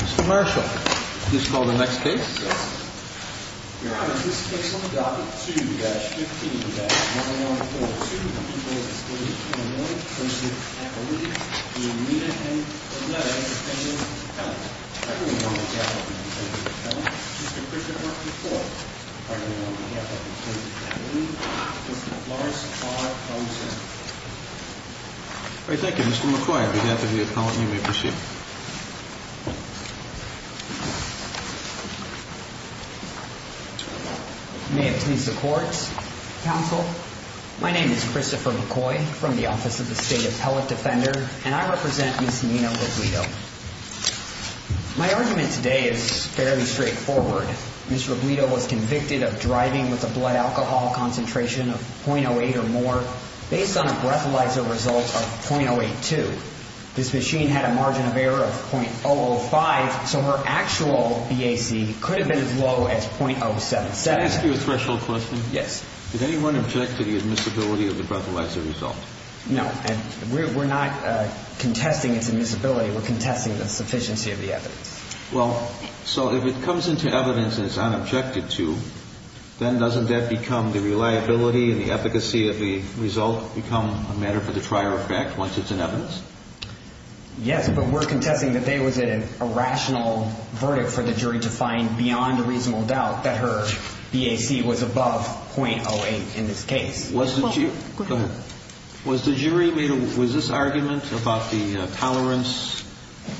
Mr. Marshall, please call the next case. Your Honor, this case will be docket 2-15-9142. The people's dispute is a one-person affidavit. The amendment can be presented to the defendant. I hereby order the defendant to present the defendant, Mr. Christopher McCoy. I hereby order the defendant to present the defendant, Mr. Lawrence R. Thompson. Thank you. Mr. McCoy, on behalf of the defendant, you may proceed. May it please the court. Counsel, my name is Christopher McCoy from the Office of the State Appellate Defender, and I represent Ms. Nina Robledo. My argument today is fairly straightforward. Ms. Robledo was convicted of driving with a blood alcohol concentration of .08 or more based on a breathalyzer result of .082. This machine had a margin of error of .005, so her actual BAC could have been as low as .077. Can I ask you a threshold question? Yes. Did anyone object to the admissibility of the breathalyzer result? No. We're not contesting its admissibility. We're contesting the sufficiency of the evidence. Well, so if it comes into evidence and it's unobjected to, then doesn't that become the reliability and the efficacy of the result become a matter for the trier of fact once it's in evidence? Yes, but we're contesting that there was a rational verdict for the jury to find beyond a reasonable doubt that her BAC was above .08 in this case. Go ahead. Was this argument about the tolerance,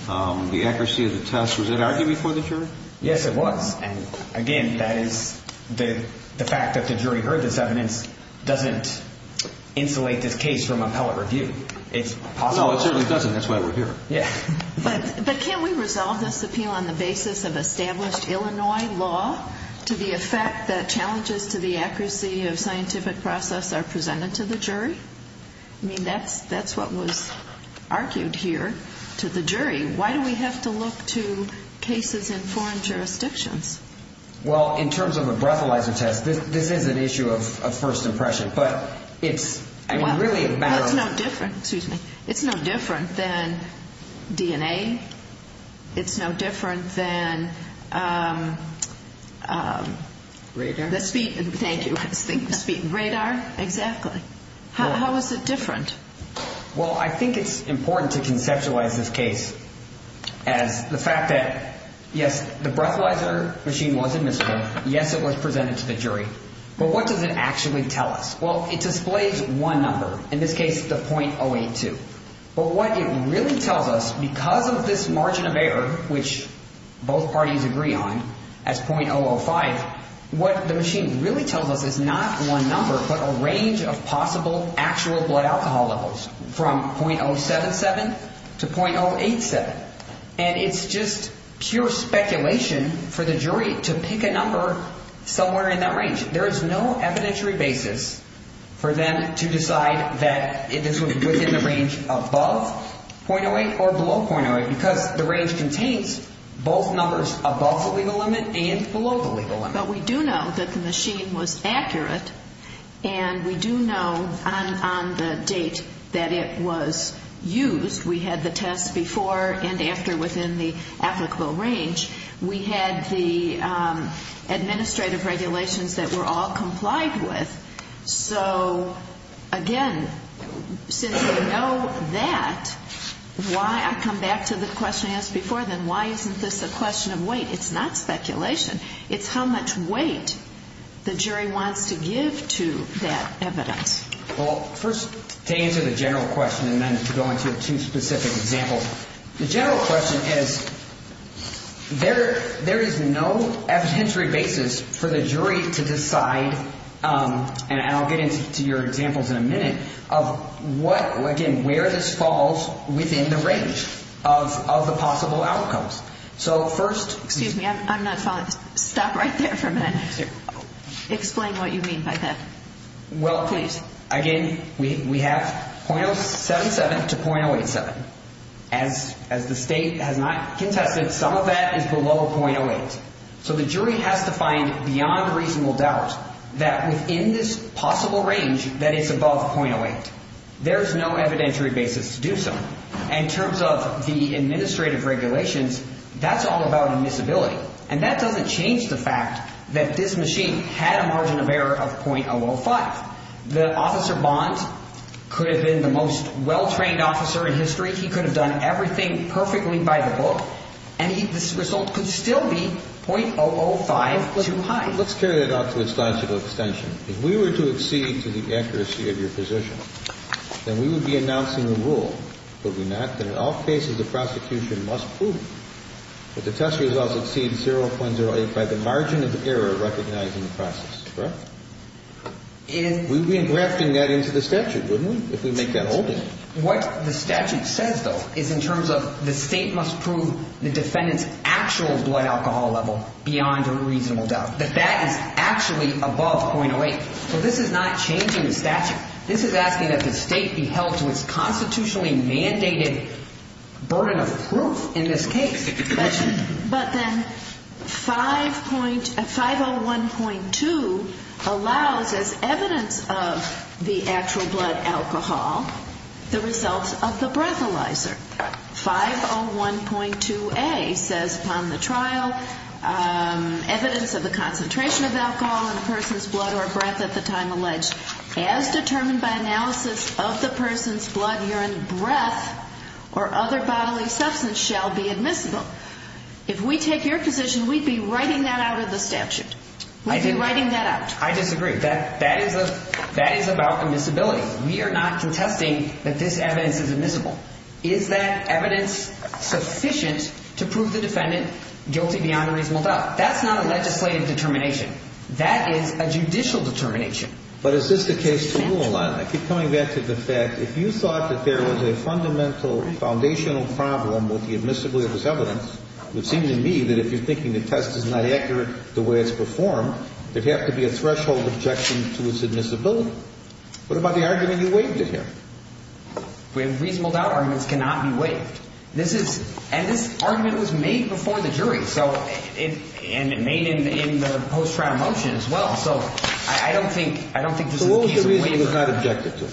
the accuracy of the test, was it argued before the jury? Yes, it was, and again, that is the fact that the jury heard this evidence doesn't insulate this case from appellate review. No, it certainly doesn't. That's why we're here. But can't we resolve this appeal on the basis of established Illinois law to the effect that challenges to the accuracy of scientific process are presented to the jury? I mean, that's what was argued here to the jury. Why do we have to look to cases in foreign jurisdictions? Well, in terms of a breathalyzer test, this is an issue of first impression, but it's really a matter of... It's no different, excuse me. It's no different than DNA. It's no different than... Radar? Thank you. Speed and radar, exactly. How is it different? Well, I think it's important to conceptualize this case as the fact that, yes, the breathalyzer machine was admissible. Yes, it was presented to the jury. But what does it actually tell us? Well, it displays one number, in this case, the .082. But what it really tells us, because of this margin of error, which both parties agree on as .005, what the machine really tells us is not one number, but a range of possible actual blood alcohol levels from .077 to .087. And it's just pure speculation for the jury to pick a number somewhere in that range. There is no evidentiary basis for them to decide that this was within the range above .08 or below .08, because the range contains both numbers above the legal limit and below the legal limit. But we do know that the machine was accurate, and we do know on the date that it was used. We had the test before and after within the applicable range. We had the administrative regulations that were all complied with. So, again, since we know that, I come back to the question I asked before, then why isn't this a question of weight? It's not speculation. It's how much weight the jury wants to give to that evidence. Well, first, to answer the general question and then to go into two specific examples, the general question is, there is no evidentiary basis for the jury to decide, and I'll get into your examples in a minute, of what, again, where this falls within the range of the possible outcomes. So first- Excuse me, I'm not following. Stop right there for a minute. Sure. Explain what you mean by that. Well, please, again, we have .077 to .087. As the state has not contested, some of that is below .08. So the jury has to find beyond reasonable doubt that within this possible range that it's above .08. There's no evidentiary basis to do so. In terms of the administrative regulations, that's all about admissibility, and that doesn't change the fact that this machine had a margin of error of .005. The officer, Bond, could have been the most well-trained officer in history. He could have done everything perfectly by the book, and the result could still be .005 too high. Let's carry that out to a scientific extension. If we were to accede to the accuracy of your position, then we would be announcing a rule, would we not, that in all cases the prosecution must prove that the test results exceed 0.08 by the margin of error recognized in the process, correct? We'd be engrafting that into the statute, wouldn't we, if we make that holding? What the statute says, though, is in terms of the state must prove the defendant's actual blood alcohol level beyond a reasonable doubt, that that is actually above .08. So this is not changing the statute. This is asking that the state be held to its constitutionally mandated burden of proof in this case. But then 501.2 allows as evidence of the actual blood alcohol the results of the breathalyzer. 501.2A says upon the trial, evidence of the concentration of alcohol in the person's blood or breath at the time alleged, as determined by analysis of the person's blood, urine, breath, or other bodily substance shall be admissible. If we take your position, we'd be writing that out of the statute. We'd be writing that out. I disagree. That is about admissibility. We are not contesting that this evidence is admissible. Is that evidence sufficient to prove the defendant guilty beyond a reasonable doubt? That's not a legislative determination. That is a judicial determination. But is this the case to rule on? I keep coming back to the fact, if you thought that there was a fundamental foundational problem with the admissibility of this evidence, it would seem to me that if you're thinking the test is not accurate the way it's performed, there'd have to be a threshold objection to its admissibility. What about the argument you waived in here? Reasonable doubt arguments cannot be waived. And this argument was made before the jury and made in the post-trial motion as well. So I don't think this is a reasonable waiver. So what was the reason it was not objected to?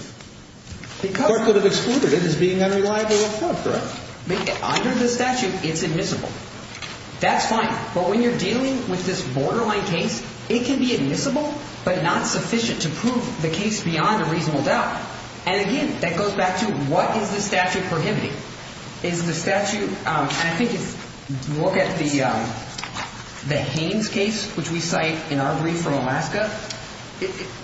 The court could have excluded it as being unreliable or a fraud threat. Under the statute, it's admissible. That's fine. But when you're dealing with this borderline case, it can be admissible but not sufficient to prove the case beyond a reasonable doubt. And, again, that goes back to what is the statute prohibiting? Is the statute ‑‑ and I think if you look at the Haynes case, which we cite in our brief from Alaska,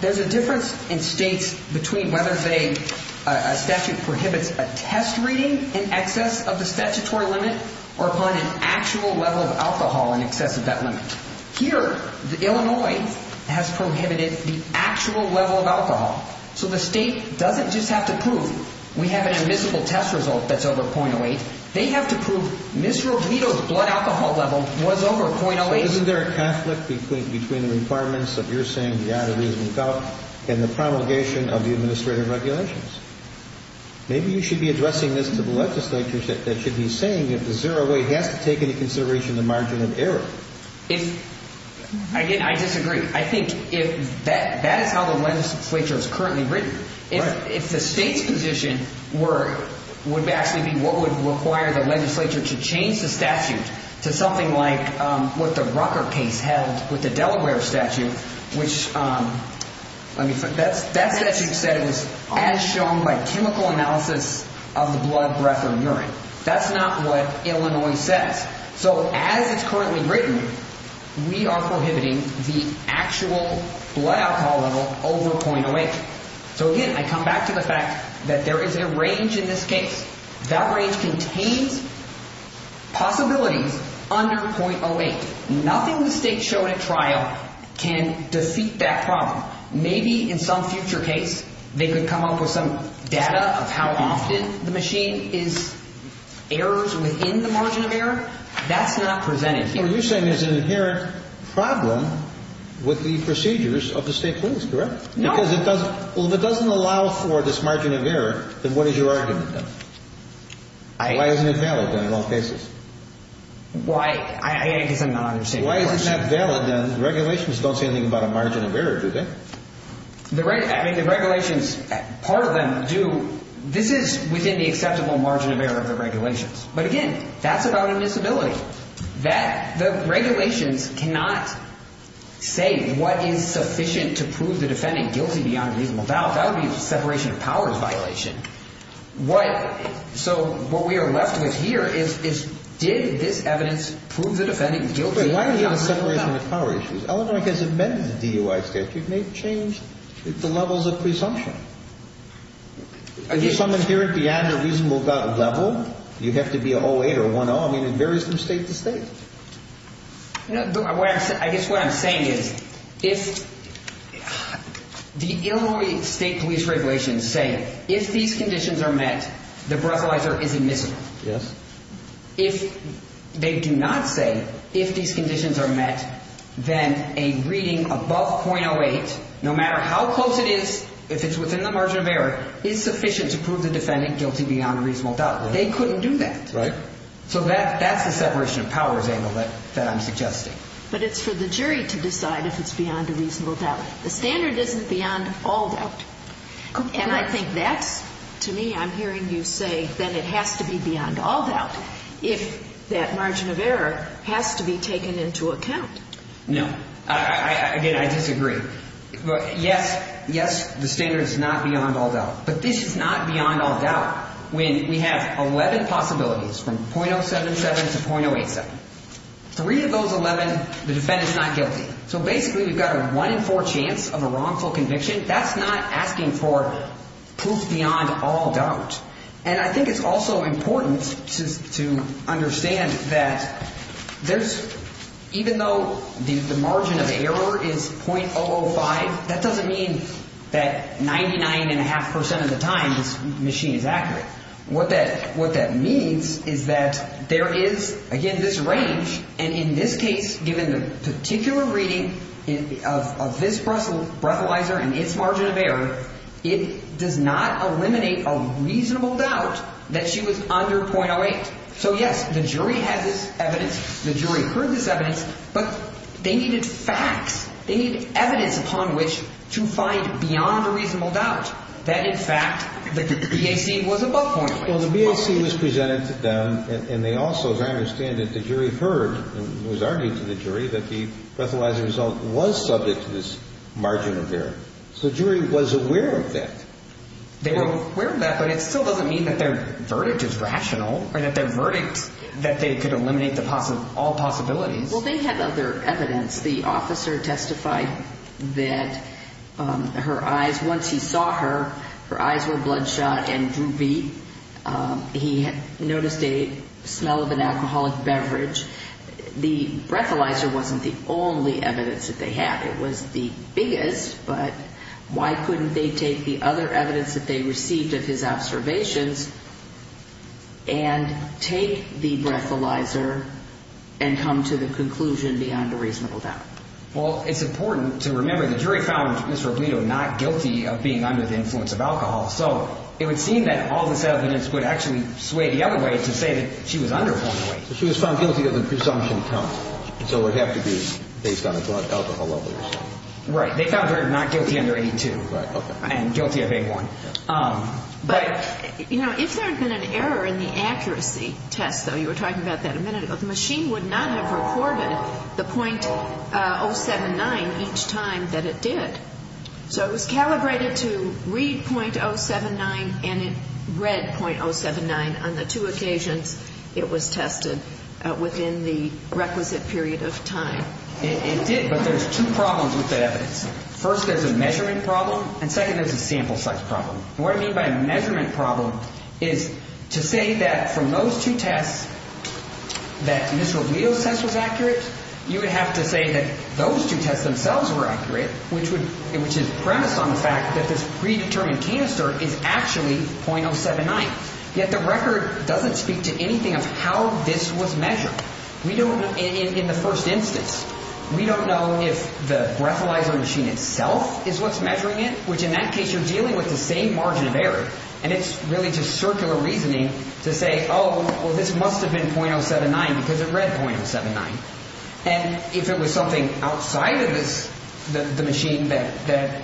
there's a difference in states between whether a statute prohibits a test reading in excess of the statutory limit or upon an actual level of alcohol in excess of that limit. Here, Illinois has prohibited the actual level of alcohol. So the state doesn't just have to prove we have an admissible test result that's over 0.08. They have to prove Ms. Robito's blood alcohol level was over 0.08. Isn't there a conflict between the requirements of your saying beyond a reasonable doubt and the promulgation of the administrative regulations? Maybe you should be addressing this to the legislature that should be saying that the 0.08 has to take into consideration the margin of error. Again, I disagree. I think that is how the legislature is currently written. If the state's position would actually be what would require the legislature to change the statute to something like what the Rucker case held with the Delaware statute, which that statute says as shown by chemical analysis of the blood, breath, or urine. That's not what Illinois says. So as it's currently written, we are prohibiting the actual blood alcohol level over 0.08. So again, I come back to the fact that there is a range in this case. That range contains possibilities under 0.08. Nothing the state showed at trial can defeat that problem. Maybe in some future case they could come up with some data of how often the machine is errors within the margin of error. That's not presented here. So what you're saying is an inherent problem with the procedures of the state courts, correct? No. Because if it doesn't allow for this margin of error, then what is your argument then? Why isn't it valid then in all cases? I guess I'm not understanding your question. Why isn't that valid then? The regulations don't say anything about a margin of error, do they? The regulations, part of them do. This is within the acceptable margin of error of the regulations. But again, that's about a disability. The regulations cannot say what is sufficient to prove the defendant guilty beyond a reasonable doubt. That would be a separation of powers violation. So what we are left with here is did this evidence prove the defendant guilty beyond a reasonable doubt? Wait, why do you have a separation of powers issue? Illinois has amended the DUI statute. It may change the levels of presumption. If you summon here a beyond a reasonable doubt level, you have to be a 08 or a 10. I mean, it varies from state to state. I guess what I'm saying is if the Illinois state police regulations say if these conditions are met, the breathalyzer is admissible. Yes. If they do not say if these conditions are met, then a reading above .08, no matter how close it is, if it's within the margin of error, is sufficient to prove the defendant guilty beyond a reasonable doubt. They couldn't do that. Right. So that's the separation of powers angle that I'm suggesting. But it's for the jury to decide if it's beyond a reasonable doubt. The standard isn't beyond all doubt. And I think that's, to me, I'm hearing you say that it has to be beyond all doubt. If that margin of error has to be taken into account. No. Again, I disagree. Yes, yes, the standard is not beyond all doubt. But this is not beyond all doubt when we have 11 possibilities from .077 to .087. Three of those 11, the defendant's not guilty. So basically, you've got a one in four chance of a wrongful conviction. That's not asking for proof beyond all doubt. And I think it's also important to understand that there's, even though the margin of error is .005, that doesn't mean that 99.5% of the time this machine is accurate. What that means is that there is, again, this range. And in this case, given the particular reading of this breathalyzer and its margin of error, it does not eliminate a reasonable doubt that she was under .08. So, yes, the jury has this evidence. The jury heard this evidence. But they needed facts. They needed evidence upon which to find beyond a reasonable doubt that, in fact, the BAC was above .08. Well, the BAC was presented to them, and they also, as I understand it, the jury heard and was argued to the jury that the breathalyzer result was subject to this margin of error. So the jury was aware of that. They were aware of that, but it still doesn't mean that their verdict is rational or that their verdict that they could eliminate all possibilities. Well, they had other evidence. The officer testified that her eyes, once he saw her, her eyes were bloodshot and droopy. He noticed a smell of an alcoholic beverage. The breathalyzer wasn't the only evidence that they had. It was the biggest, but why couldn't they take the other evidence that they received of his observations and take the breathalyzer and come to the conclusion beyond a reasonable doubt? Well, it's important to remember the jury found Ms. Robledo not guilty of being under the influence of alcohol. So it would seem that all this evidence would actually sway the other way to say that she was under .08. Right. They found her not guilty under A2 and guilty of A1. But, you know, if there had been an error in the accuracy test, though, you were talking about that a minute ago, the machine would not have recorded the .079 each time that it did. So it was calibrated to read .079 and it read .079 on the two occasions it was tested within the requisite period of time. It did, but there's two problems with that evidence. First, there's a measurement problem, and second, there's a sample size problem. And what I mean by a measurement problem is to say that from those two tests that Ms. Robledo's test was accurate, you would have to say that those two tests themselves were accurate, which is premised on the fact that this predetermined canister is actually .079. Yet the record doesn't speak to anything of how this was measured. In the first instance, we don't know if the graphalyzer machine itself is what's measuring it, which in that case you're dealing with the same margin of error. And it's really just circular reasoning to say, oh, well, this must have been .079 because it read .079. And if it was something outside of the machine that,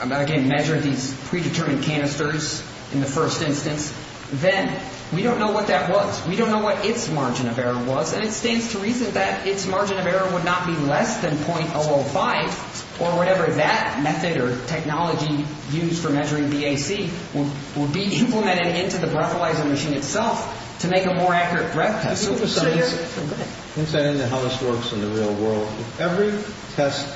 again, measured these predetermined canisters in the first instance, then we don't know what that was. We don't know what its margin of error was. And it stands to reason that its margin of error would not be less than .005, or whatever that method or technology used for measuring BAC would be implemented into the graphalyzer machine itself to make a more accurate breath test. So it's still good. Since I know how this works in the real world, every test,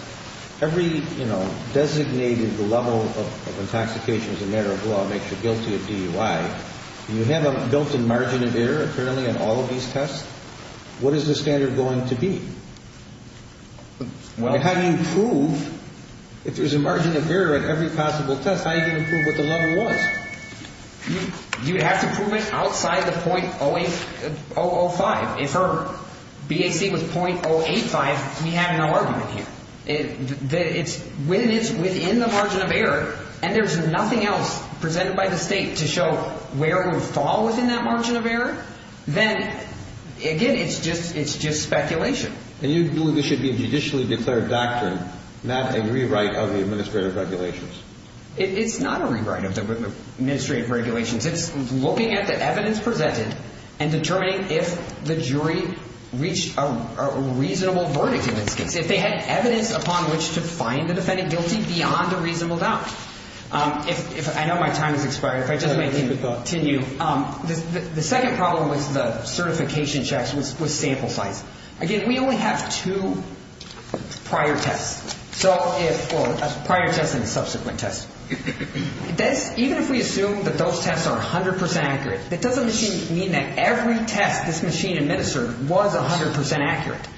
every, you know, designated level of intoxication as a matter of law makes you guilty of DUI. You have a built-in margin of error, apparently, in all of these tests. What is the standard going to be? How do you prove, if there's a margin of error at every possible test, how do you prove what the level was? You have to prove it outside the .005. If our BAC was .085, we have no argument here. When it's within the margin of error, and there's nothing else presented by the State to show where it would fall within that margin of error, then, again, it's just speculation. And you believe this should be a judicially declared doctrine, not a rewrite of the administrative regulations. It's not a rewrite of the administrative regulations. It's looking at the evidence presented and determining if the jury reached a reasonable verdict in this case. If they had evidence upon which to find the defendant guilty beyond a reasonable doubt. I know my time has expired. If I just may continue. The second problem with the certification checks was sample size. Again, we only have two prior tests. So if, well, a prior test and a subsequent test. Even if we assume that those tests are 100% accurate, that doesn't mean that every test this machine administered was 100% accurate.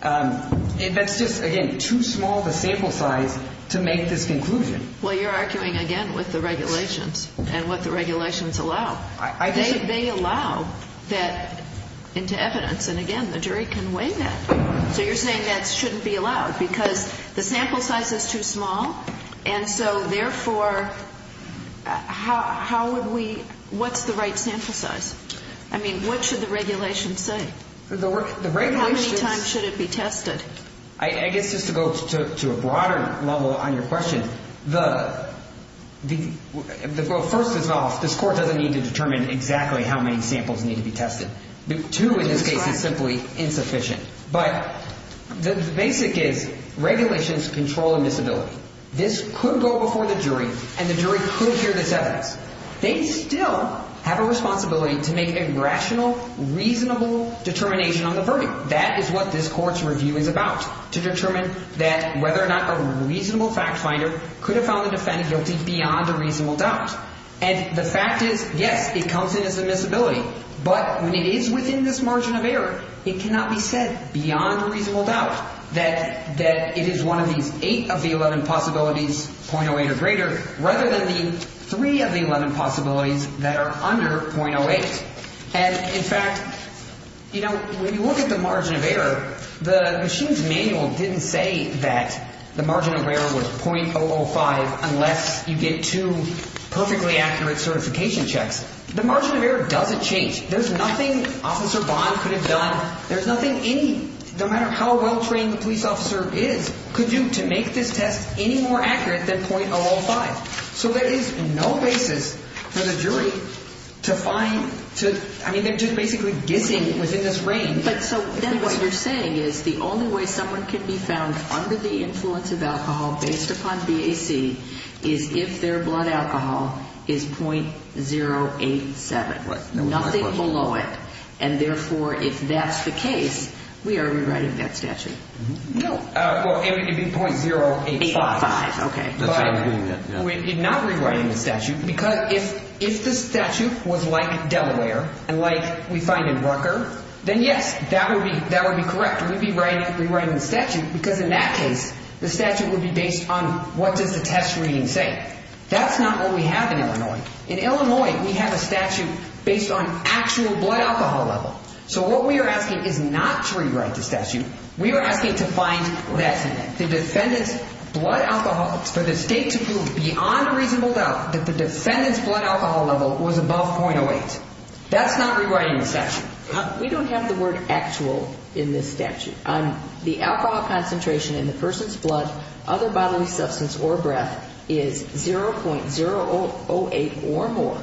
That's just, again, too small the sample size to make this conclusion. Well, you're arguing, again, with the regulations and what the regulations allow. They allow that into evidence. And, again, the jury can weigh that. So you're saying that shouldn't be allowed because the sample size is too small. And so, therefore, how would we, what's the right sample size? I mean, what should the regulations say? How many times should it be tested? I guess just to go to a broader level on your question, the first is off. This Court doesn't need to determine exactly how many samples need to be tested. Two in this case is simply insufficient. But the basic is regulations control admissibility. This could go before the jury, and the jury could hear this evidence. They still have a responsibility to make a rational, reasonable determination on the verdict. That is what this Court's review is about, to determine that whether or not a reasonable fact finder could have found the defendant guilty beyond a reasonable doubt. And the fact is, yes, it comes in as admissibility. But when it is within this margin of error, it cannot be said beyond a reasonable doubt that it is one of these eight of the 11 possibilities, 0.08 or greater, rather than the three of the 11 possibilities that are under 0.08. And, in fact, you know, when you look at the margin of error, the machine's manual didn't say that the margin of error was 0.005 unless you get two perfectly accurate certification checks. The margin of error doesn't change. There's nothing Officer Bond could have done. There's nothing any, no matter how well-trained the police officer is, could do to make this test any more accurate than 0.005. So there is no basis for the jury to find, to, I mean, they're just basically guessing within this range. But so then what you're saying is the only way someone can be found under the influence of alcohol based upon BAC is if their blood alcohol is 0.087, nothing below it. And, therefore, if that's the case, we are rewriting that statute. No. Well, it would be 0.085. 0.085, okay. But we're not rewriting the statute because if the statute was like Delaware and like we find in Rucker, then, yes, that would be correct. We'd be rewriting the statute because, in that case, the statute would be based on what does the test reading say. That's not what we have in Illinois. In Illinois, we have a statute based on actual blood alcohol level. So what we are asking is not to rewrite the statute. We are asking to find less in it, the defendant's blood alcohol, for the state to prove beyond a reasonable doubt that the defendant's blood alcohol level was above 0.08. That's not rewriting the statute. We don't have the word actual in this statute. The alcohol concentration in the person's blood, other bodily substance, or breath is 0.008 or more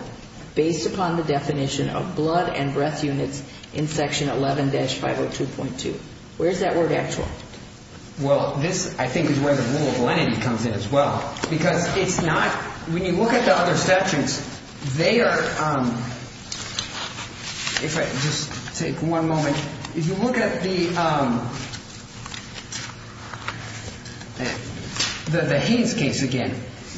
based upon the definition of blood and breath units in Section 11-502.2. Where is that word actual? Well, this, I think, is where the rule of lenity comes in as well. Because it's not, when you look at the other statutes, they are, if I just take one moment, if you look at the Haynes case again,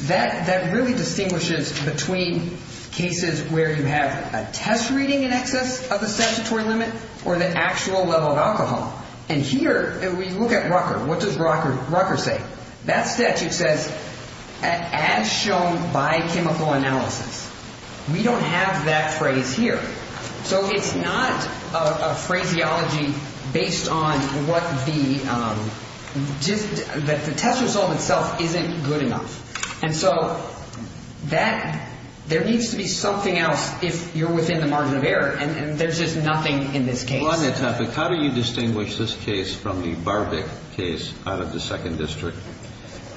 that really distinguishes between cases where you have a test reading in excess of the statutory limit or the actual level of alcohol. And here, if we look at Rucker, what does Rucker say? Rucker, that statute says as shown by chemical analysis. We don't have that phrase here. So it's not a phraseology based on what the test result itself isn't good enough. And so that, there needs to be something else if you're within the margin of error. And there's just nothing in this case. Well, on that topic, how do you distinguish this case from the Barbic case out of the Second District?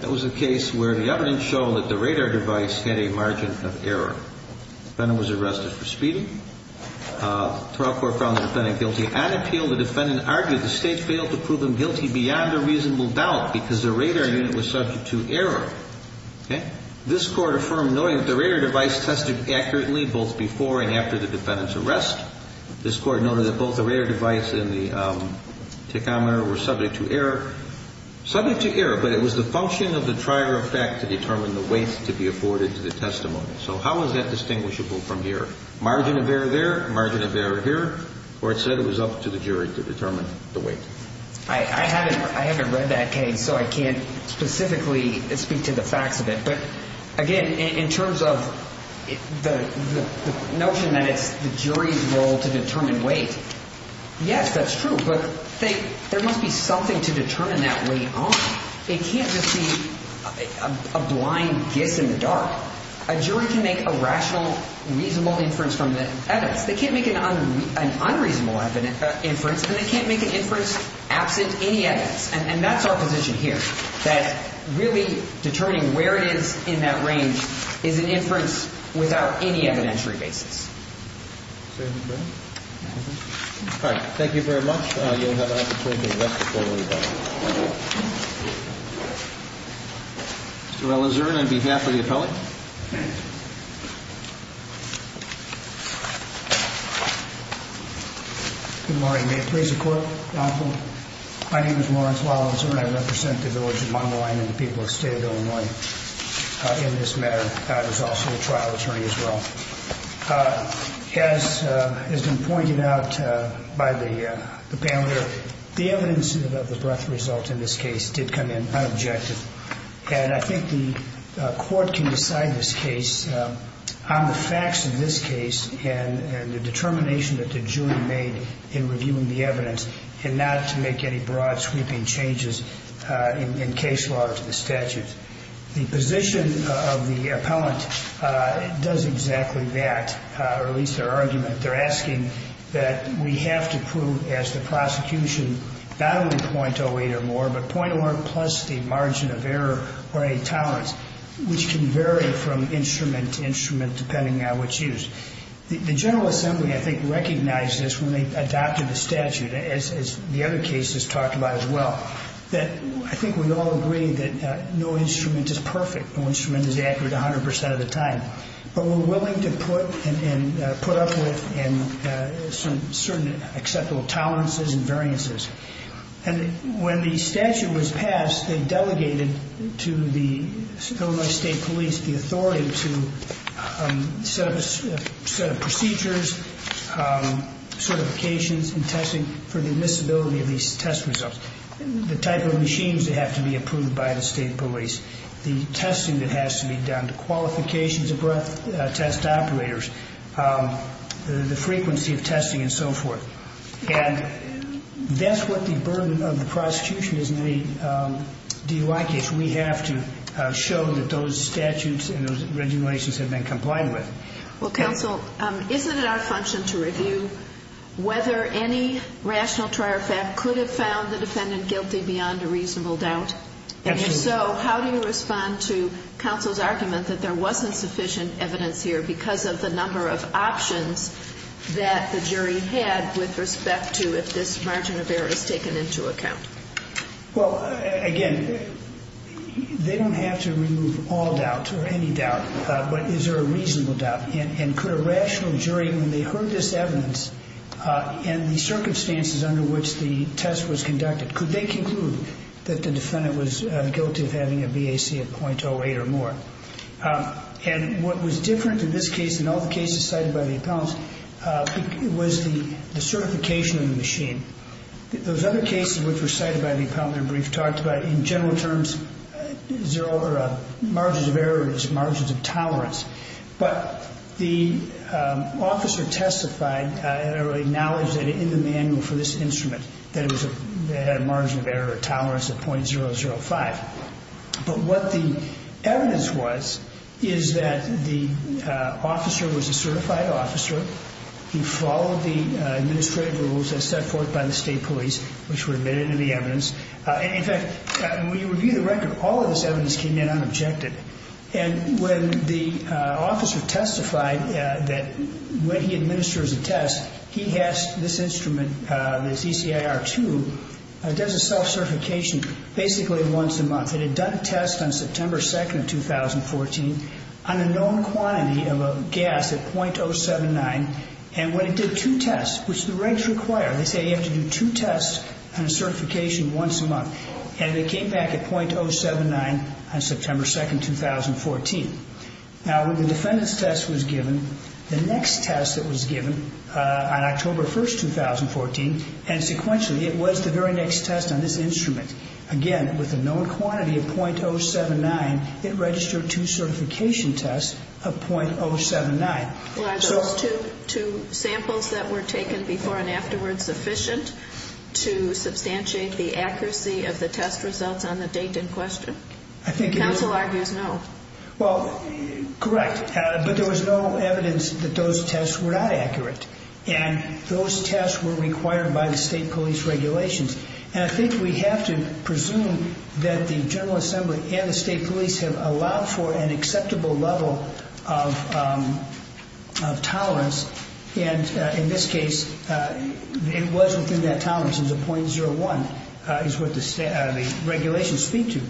That was a case where the evidence showed that the radar device had a margin of error. Defendant was arrested for speeding. Trial court found the defendant guilty. On appeal, the defendant argued the State failed to prove him guilty beyond a reasonable doubt because the radar unit was subject to error. This Court affirmed knowing that the radar device tested accurately both before and after the defendant's arrest. This Court noted that both the radar device and the tachometer were subject to error. Subject to error, but it was the function of the trier of fact to determine the weight to be afforded to the testimony. So how is that distinguishable from here? Margin of error there, margin of error here. Court said it was up to the jury to determine the weight. I haven't read that case, so I can't specifically speak to the facts of it. But again, in terms of the notion that it's the jury's role to determine weight, yes, that's true. But there must be something to determine that weight on. It can't just be a blind guess in the dark. A jury can make a rational, reasonable inference from the evidence. They can't make an unreasonable inference, and they can't make an inference absent any evidence. And that's our position here, that really determining where it is in that range is an inference without any evidentiary basis. All right. Thank you very much. You'll have an opportunity to rest before we move on. Mr. Ellison, on behalf of the appellate. Good morning. May it please the Court, Your Honor. My name is Lawrence Wallenzer, and I represent the village of Montmoyne and the people of the state of Illinois in this matter. I was also a trial attorney as well. As has been pointed out by the panel here, the evidence of the breath result in this case did come in unobjective. And I think the Court can decide this case on the facts of this case and the determination that the jury made in reviewing the evidence and not to make any broad sweeping changes in case law to the statute. The position of the appellant does exactly that, or at least their argument. They're asking that we have to prove as the prosecution not only .08 or more, but .01 plus the margin of error or any tolerance, which can vary from instrument to instrument depending on which use. The General Assembly, I think, recognized this when they adopted the statute, as the other cases talked about as well, that I think we all agree that no instrument is perfect, no instrument is accurate 100% of the time. But we're willing to put up with certain acceptable tolerances and variances. And when the statute was passed, they delegated to the Illinois State Police the authority to set up procedures, certifications, and testing for the admissibility of these test results, the type of machines that have to be approved by the State Police, the testing that has to be done, the qualifications of breath test operators, the frequency of testing, and so forth. And that's what the burden of the prosecution is made delicate. We have to show that those statutes and those regulations have been complied with. Well, counsel, isn't it our function to review whether any rational trier fact could have found the defendant guilty beyond a reasonable doubt? Absolutely. And so how do you respond to counsel's argument that there wasn't sufficient evidence here because of the number of options that the jury had with respect to if this margin of error is taken into account? Well, again, they don't have to remove all doubt or any doubt, but is there a reasonable doubt? And could a rational jury, when they heard this evidence and the circumstances under which the test was conducted, could they conclude that the defendant was guilty of having a BAC of .08 or more? And what was different in this case and all the cases cited by the appellants was the certification of the machine. Those other cases which were cited by the appellant in their brief talked about, in general terms, there are margins of errors, margins of tolerance. But the officer testified and acknowledged in the manual for this instrument that it had a margin of error of tolerance of .005. But what the evidence was is that the officer was a certified officer. He followed the administrative rules as set forth by the state police, which were admitted in the evidence. In fact, when you review the record, all of this evidence came in unobjected. And when the officer testified that when he administers a test, he has this instrument, this ECIR-2, does a self-certification basically once a month. It had done a test on September 2nd of 2014 on a known quantity of a gas at .079. And when it did two tests, which the regs require, they say you have to do two tests on a certification once a month. And it came back at .079 on September 2nd, 2014. Now, when the defendant's test was given, the next test that was given on October 1st, 2014, and sequentially it was the very next test on this instrument, again, with a known quantity of .079, it registered two certification tests of .079. Well, are those two samples that were taken before and afterwards sufficient to substantiate the accuracy of the test results on the date in question? Counsel argues no. Well, correct. But there was no evidence that those tests were not accurate. And those tests were required by the state police regulations. And I think we have to presume that the General Assembly and the state police have allowed for an acceptable level of tolerance. And in this case, it wasn't in that tolerance. It was a .01 is what the regulations speak to.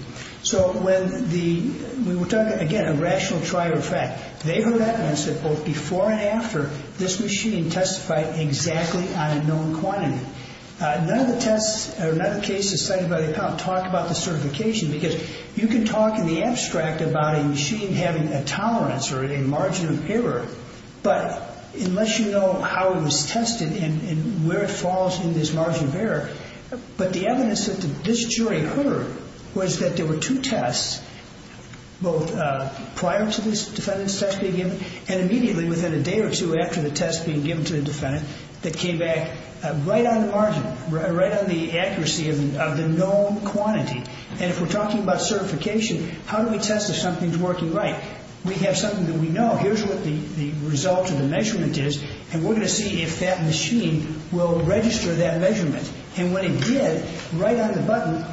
So when the ‑‑ we were talking, again, a rational trier of fact. They've heard evidence that both before and after this machine testified exactly on a known quantity. None of the tests or none of the cases cited by the appellant talk about the certification because you can talk in the abstract about a machine having a tolerance or a margin of error, but unless you know how it was tested and where it falls in this margin of error, but the evidence that this jury heard was that there were two tests, both prior to this defendant's test being given and immediately within a day or two after the test being given to the defendant that came back right on the margin, right on the accuracy of the known quantity. And if we're talking about certification, how do we test if something's working right? We have something that we know. Here's what the result of the measurement is, and we're going to see if that machine will register that measurement. And when it did, right on the button,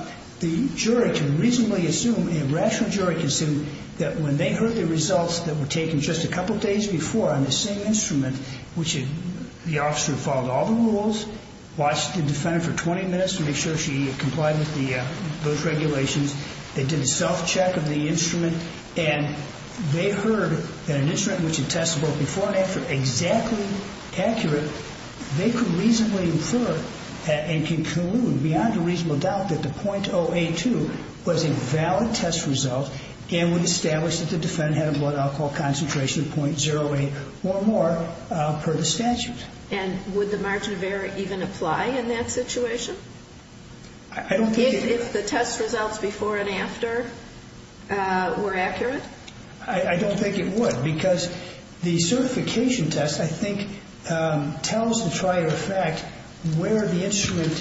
the jury can reasonably assume, a rational jury can assume, that when they heard the results that were taken just a couple days before on the same instrument, which the officer followed all the rules, watched the defendant for 20 minutes to make sure she complied with those regulations, they did a self-check of the instrument, and they heard that an instrument which had tested both before and after exactly accurate, they could reasonably infer and conclude beyond a reasonable doubt that the .082 was a valid test result and would establish that the defendant had a blood alcohol concentration of .08 or more per the statute. And would the margin of error even apply in that situation? I don't think it would. If the test results before and after were accurate? I don't think it would, because the certification test, I think, tells the trial your fact where the instrument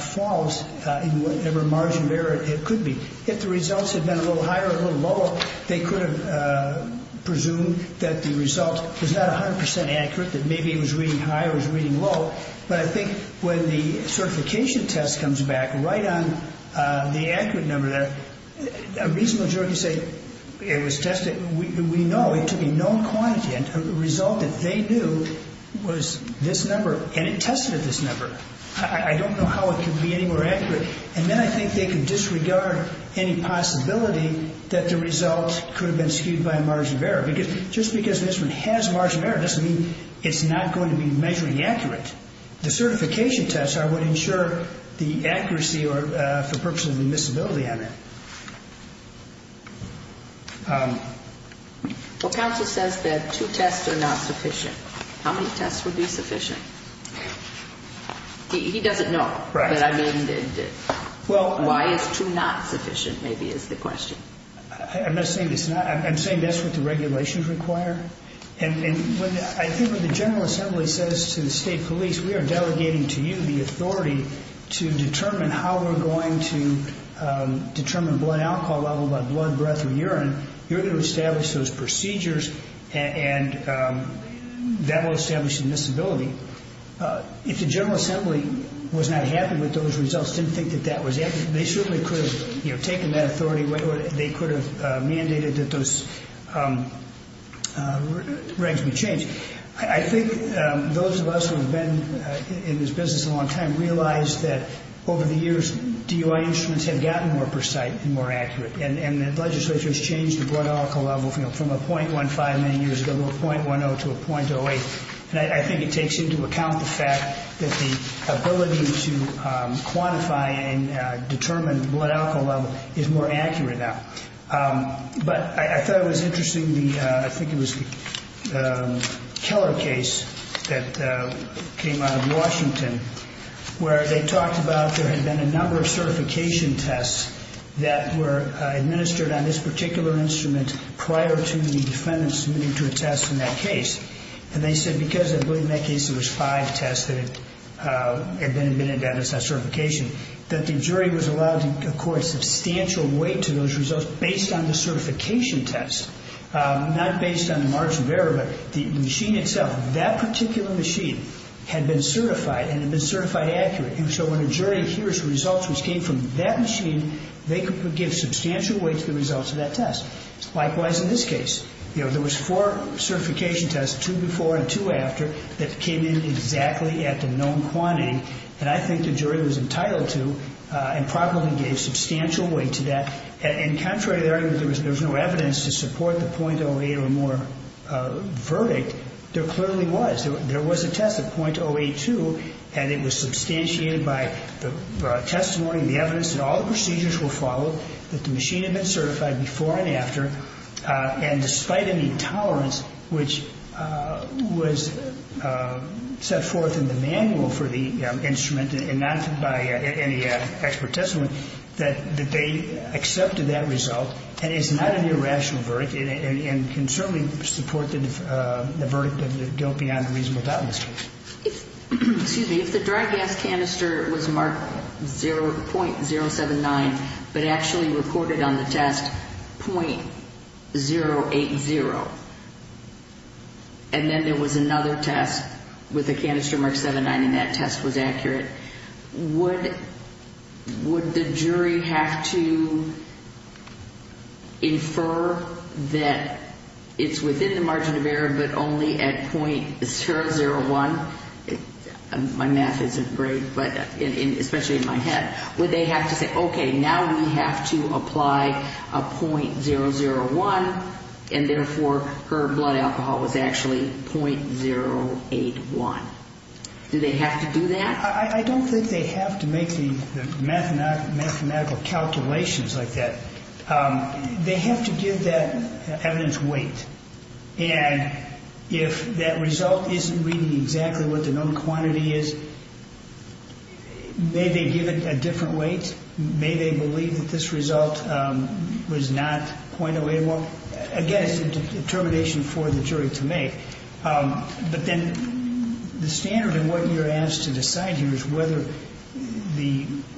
falls in whatever margin of error it could be. If the results had been a little higher or a little lower, they could have presumed that the result was not 100% accurate, that maybe it was reading high or it was reading low. But I think when the certification test comes back right on the accurate number, a reasonable jury can say it was tested. We know it took a known quantity, and the result that they knew was this number, and it tested at this number. I don't know how it could be any more accurate. And then I think they could disregard any possibility that the result could have been skewed by a margin of error, because just because the instrument has margin of error doesn't mean it's not going to be measuring accurate. The certification tests are what ensure the accuracy for purposes of admissibility on it. Well, counsel says that two tests are not sufficient. How many tests would be sufficient? He doesn't know. Why it's two not sufficient maybe is the question. I'm not saying it's not. I'm saying that's what the regulations require. And I think when the General Assembly says to the state police, we are delegating to you the authority to determine how we're going to determine blood alcohol level by blood, breath, or urine, you're going to establish those procedures, and that will establish admissibility. If the General Assembly was not happy with those results, didn't think that that was accurate, they certainly could have taken that authority, or they could have mandated that those regs be changed. I think those of us who have been in this business a long time realize that over the years, DUI instruments have gotten more precise and more accurate, and the legislature has changed the blood alcohol level from a 0.15 many years ago to a 0.10 to a 0.08. And I think it takes into account the fact that the ability to quantify and determine blood alcohol level is more accurate now. But I thought it was interesting, I think it was the Keller case that came out of Washington, where they talked about there had been a number of certification tests that were administered on this particular instrument prior to the defendant submitting to a test in that case. And they said, because I believe in that case there was five tests that had been administered on that certification, that the jury was allowed, of course, substantial weight to those results based on the certification test, not based on the margin of error, but the machine itself. That particular machine had been certified and had been certified accurate, and so when a jury hears results which came from that machine, they could give substantial weight to the results of that test. Likewise in this case. There was four certification tests, two before and two after, that came in exactly at the known quantity, and I think the jury was entitled to and probably gave substantial weight to that. And contrary to the argument that there was no evidence to support the 0.08 or more verdict, there clearly was. There was a test, a 0.082, and it was substantiated by the testimony and the evidence that all the procedures were followed, that the machine had been certified before and after, and despite any tolerance which was set forth in the manual for the instrument and not by any expert testimony, that they accepted that result and it's not an irrational verdict and can certainly support the verdict of the guilt beyond a reasonable doubt in this case. Excuse me. If the dry gas canister was marked 0.079 but actually recorded on the test 0.080 and then there was another test with a canister marked 0.79 and that test was accurate, would the jury have to infer that it's within the margin of error but only at 0.001? My math isn't great, especially in my head. Would they have to say, okay, now we have to apply a 0.001 and therefore her blood alcohol was actually 0.081? Do they have to do that? I don't think they have to make the mathematical calculations like that. They have to give that evidence weight, and if that result isn't reading exactly what the known quantity is, may they give it a different weight? May they believe that this result was not 0.081? Again, it's a determination for the jury to make. But then the standard in what you're asked to decide here is whether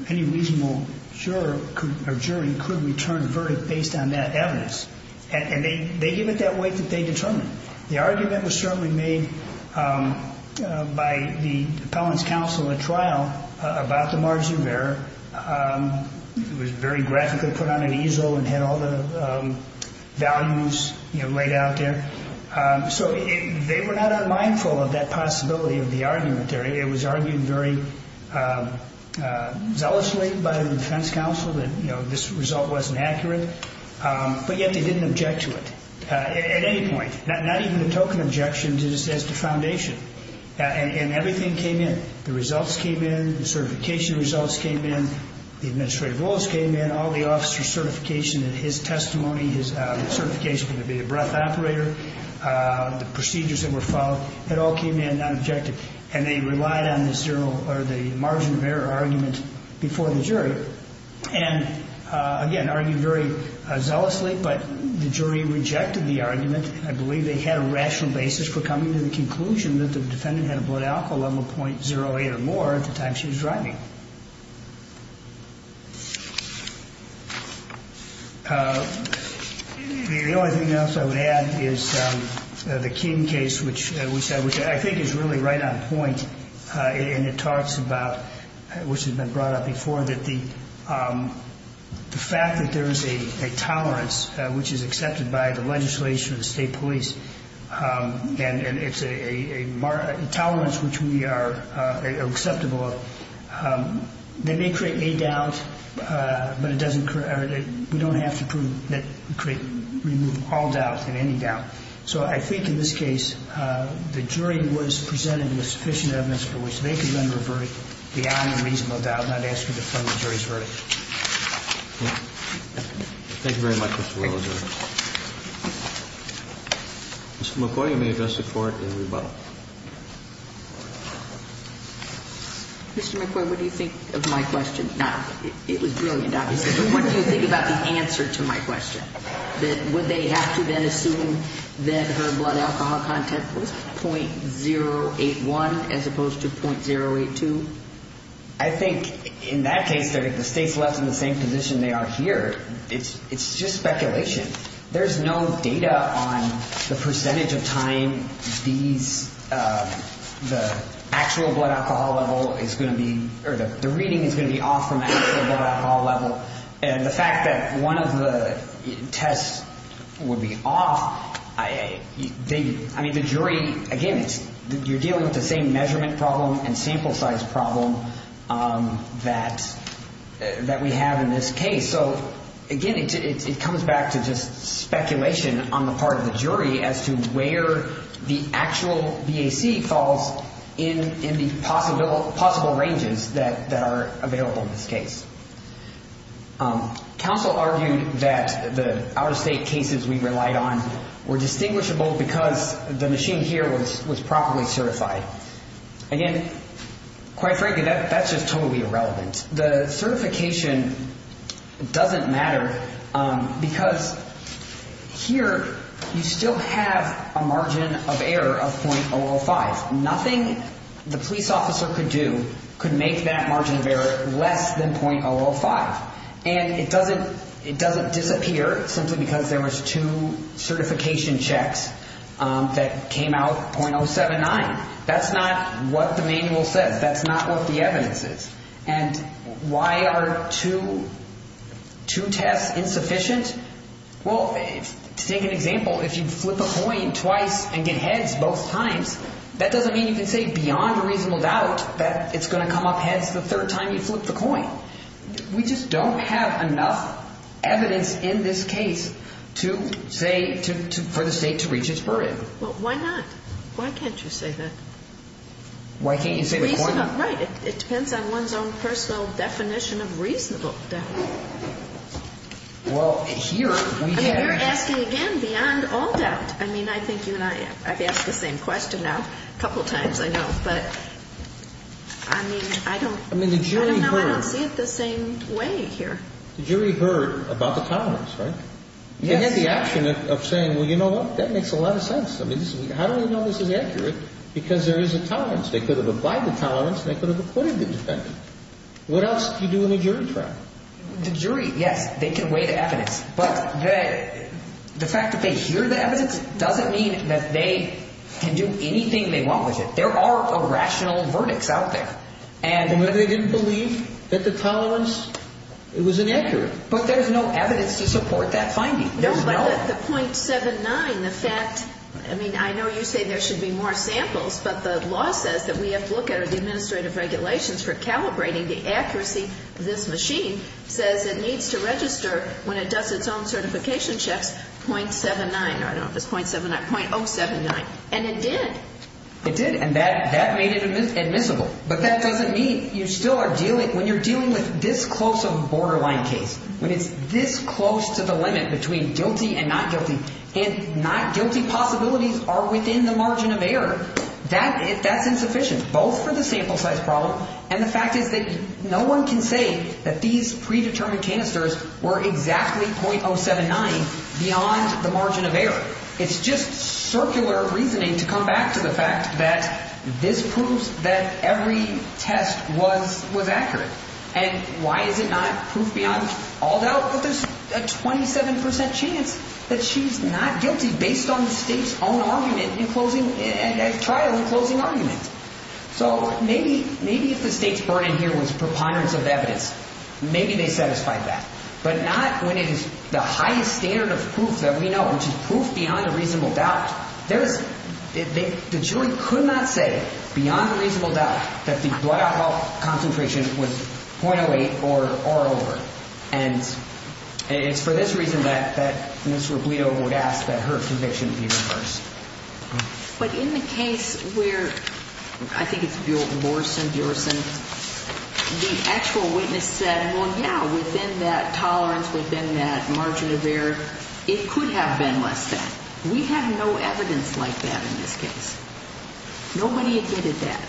any reasonable juror or jury could return a verdict based on that evidence, and they give it that weight that they determine. The argument was certainly made by the appellant's counsel at trial about the margin of error. It was very graphically put on an easel and had all the values laid out there. So they were not unmindful of that possibility of the argument there. It was argued very zealously by the defense counsel that this result wasn't accurate, but yet they didn't object to it at any point, not even a token objection just as to foundation. And everything came in. The results came in. The certification results came in. The administrative rules came in. All the officer's certification and his testimony, his certification from the breath operator, the procedures that were followed, it all came in nonobjective, and they relied on the margin of error argument before the jury. And, again, argued very zealously, but the jury rejected the argument. I believe they had a rational basis for coming to the conclusion that the defendant had a blood alcohol level 0.08 or more at the time she was driving. The only thing else I would add is the King case, which I think is really right on point, and it talks about, which has been brought up before, that the fact that there is a tolerance, which is accepted by the legislation of the state police, and it's a tolerance which we are acceptable of, that may create a doubt, but we don't have to remove all doubt and any doubt. So I think in this case the jury was presented with sufficient evidence for which they could render a verdict beyond a reasonable doubt, Thank you very much, Mr. Williams. Mr. McCoy, you may address the Court in rebuttal. Mr. McCoy, what do you think of my question? Now, it was brilliant, obviously, but what do you think about the answer to my question, that would they have to then assume that her blood alcohol content was 0.081 as opposed to 0.082? I think in that case the state's left in the same position they are here. It's just speculation. There's no data on the percentage of time the actual blood alcohol level is going to be, or the reading is going to be off from the actual blood alcohol level, and the fact that one of the tests would be off, I mean, the jury, again, you're dealing with the same measurement problem and sample size problem that we have in this case. So, again, it comes back to just speculation on the part of the jury as to where the actual BAC falls in the possible ranges that are available in this case. Counsel argued that the out-of-state cases we relied on were distinguishable because the machine here was properly certified. Again, quite frankly, that's just totally irrelevant. The certification doesn't matter because here you still have a margin of error of 0.005. Nothing the police officer could do could make that margin of error less than 0.005. And it doesn't disappear simply because there was two certification checks that came out 0.079. That's not what the manual says. That's not what the evidence is. And why are two tests insufficient? Well, to take an example, if you flip a coin twice and get heads both times, that doesn't mean you can say beyond a reasonable doubt that it's going to come up heads the third time you flip the coin. We just don't have enough evidence in this case to say for the state to reach its verdict. Well, why not? Why can't you say that? Why can't you say the coin? Right. It depends on one's own personal definition of reasonable doubt. Well, here we have. I mean, you're asking again beyond all doubt. I mean, I think you and I have asked the same question now a couple times, I know. But, I mean, I don't. I mean, the jury heard. I don't know. I don't see it the same way here. The jury heard about the tolerance, right? Yes. They had the action of saying, well, you know what? That makes a lot of sense. I mean, how do we know this is accurate? Because there is a tolerance. They could have applied the tolerance. They could have acquitted the defendant. What else can you do in a jury trial? The jury, yes, they can weigh the evidence. But the fact that they hear the evidence doesn't mean that they can do anything they want with it. There are irrational verdicts out there. And whether they didn't believe that the tolerance, it was inaccurate. But there's no evidence to support that finding. No, but the .79, the fact, I mean, I know you say there should be more samples. But the law says that we have to look at the administrative regulations for calibrating the accuracy. This machine says it needs to register when it does its own certification checks .79. I don't know if it's .79, .079. And it did. It did. And that made it admissible. But that doesn't mean you still are dealing, when you're dealing with this close of a borderline case, when it's this close to the limit between guilty and not guilty, and not guilty possibilities are within the margin of error, that's insufficient, both for the sample size problem and the fact is that no one can say that these predetermined canisters were exactly .079 beyond the margin of error. It's just circular reasoning to come back to the fact that this proves that every test was accurate. And why is it not proof beyond all doubt? Well, there's a 27% chance that she's not guilty based on the state's own argument in closing, trial and closing argument. So maybe if the state's burden here was preponderance of evidence, maybe they satisfied that. But not when it is the highest standard of proof that we know, which is proof beyond a reasonable doubt. The jury could not say beyond a reasonable doubt that the blood alcohol concentration was .08 or over. And it's for this reason that Ms. Robledo would ask that her conviction be reversed. But in the case where, I think it's Borson, the actual witness said, well, yeah, within that tolerance, within that margin of error, it could have been less than. We have no evidence like that in this case. Nobody admitted that.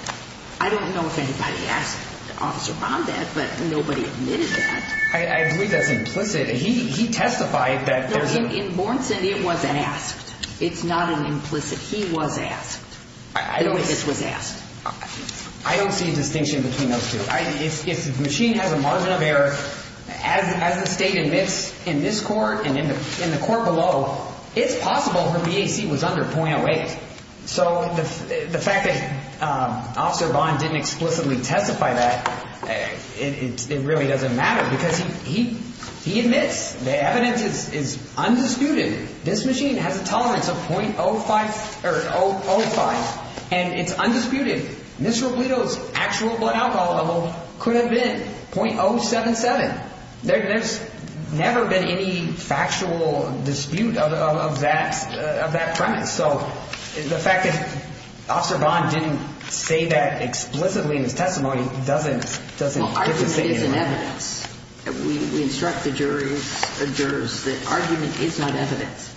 I don't know if anybody asked Officer Bondat, but nobody admitted that. I believe that's implicit. He testified that there's a... No, in Borson, it wasn't asked. It's not an implicit. He was asked. I don't... The witness was asked. I don't see a distinction between those two. If the machine has a margin of error, as the state admits in this court and in the court below, it's possible her BAC was under .08. So the fact that Officer Bond didn't explicitly testify that, it really doesn't matter because he admits the evidence is undisputed. This machine has a tolerance of .05. And it's undisputed. Ms. Robledo's actual blood alcohol level could have been .077. There's never been any factual dispute of that premise. So the fact that Officer Bond didn't say that explicitly in his testimony doesn't... Well, argument isn't evidence. We instruct the jurors that argument is not evidence.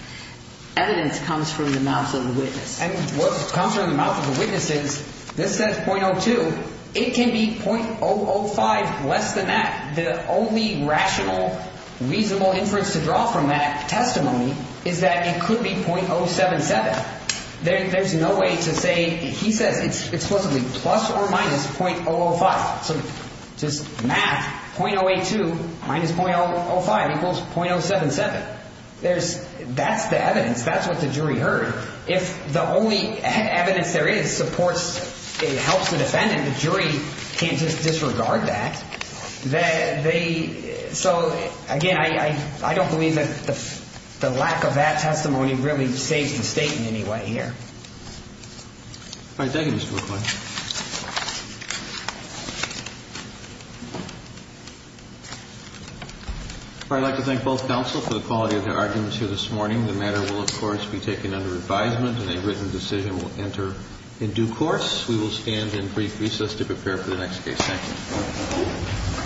Evidence comes from the mouth of the witness. And what comes from the mouth of the witness is this says .02. It can be .005 less than that. The only rational, reasonable inference to draw from that testimony is that it could be .077. There's no way to say... He says it's explicitly plus or minus .005. So just math, .082 minus .005 equals .077. There's... That's the evidence. That's what the jury heard. If the only evidence there is supports... helps the defendant, the jury can't just disregard that. They... So, again, I don't believe that the lack of that testimony really saves the State in any way here. All right. Thank you, Mr. McCoy. I'd like to thank both counsel for the quality of their argument here this morning. The matter will, of course, be taken under advisement and a written decision will enter in due course. We will stand in brief recess to prepare for the next case. Thank you.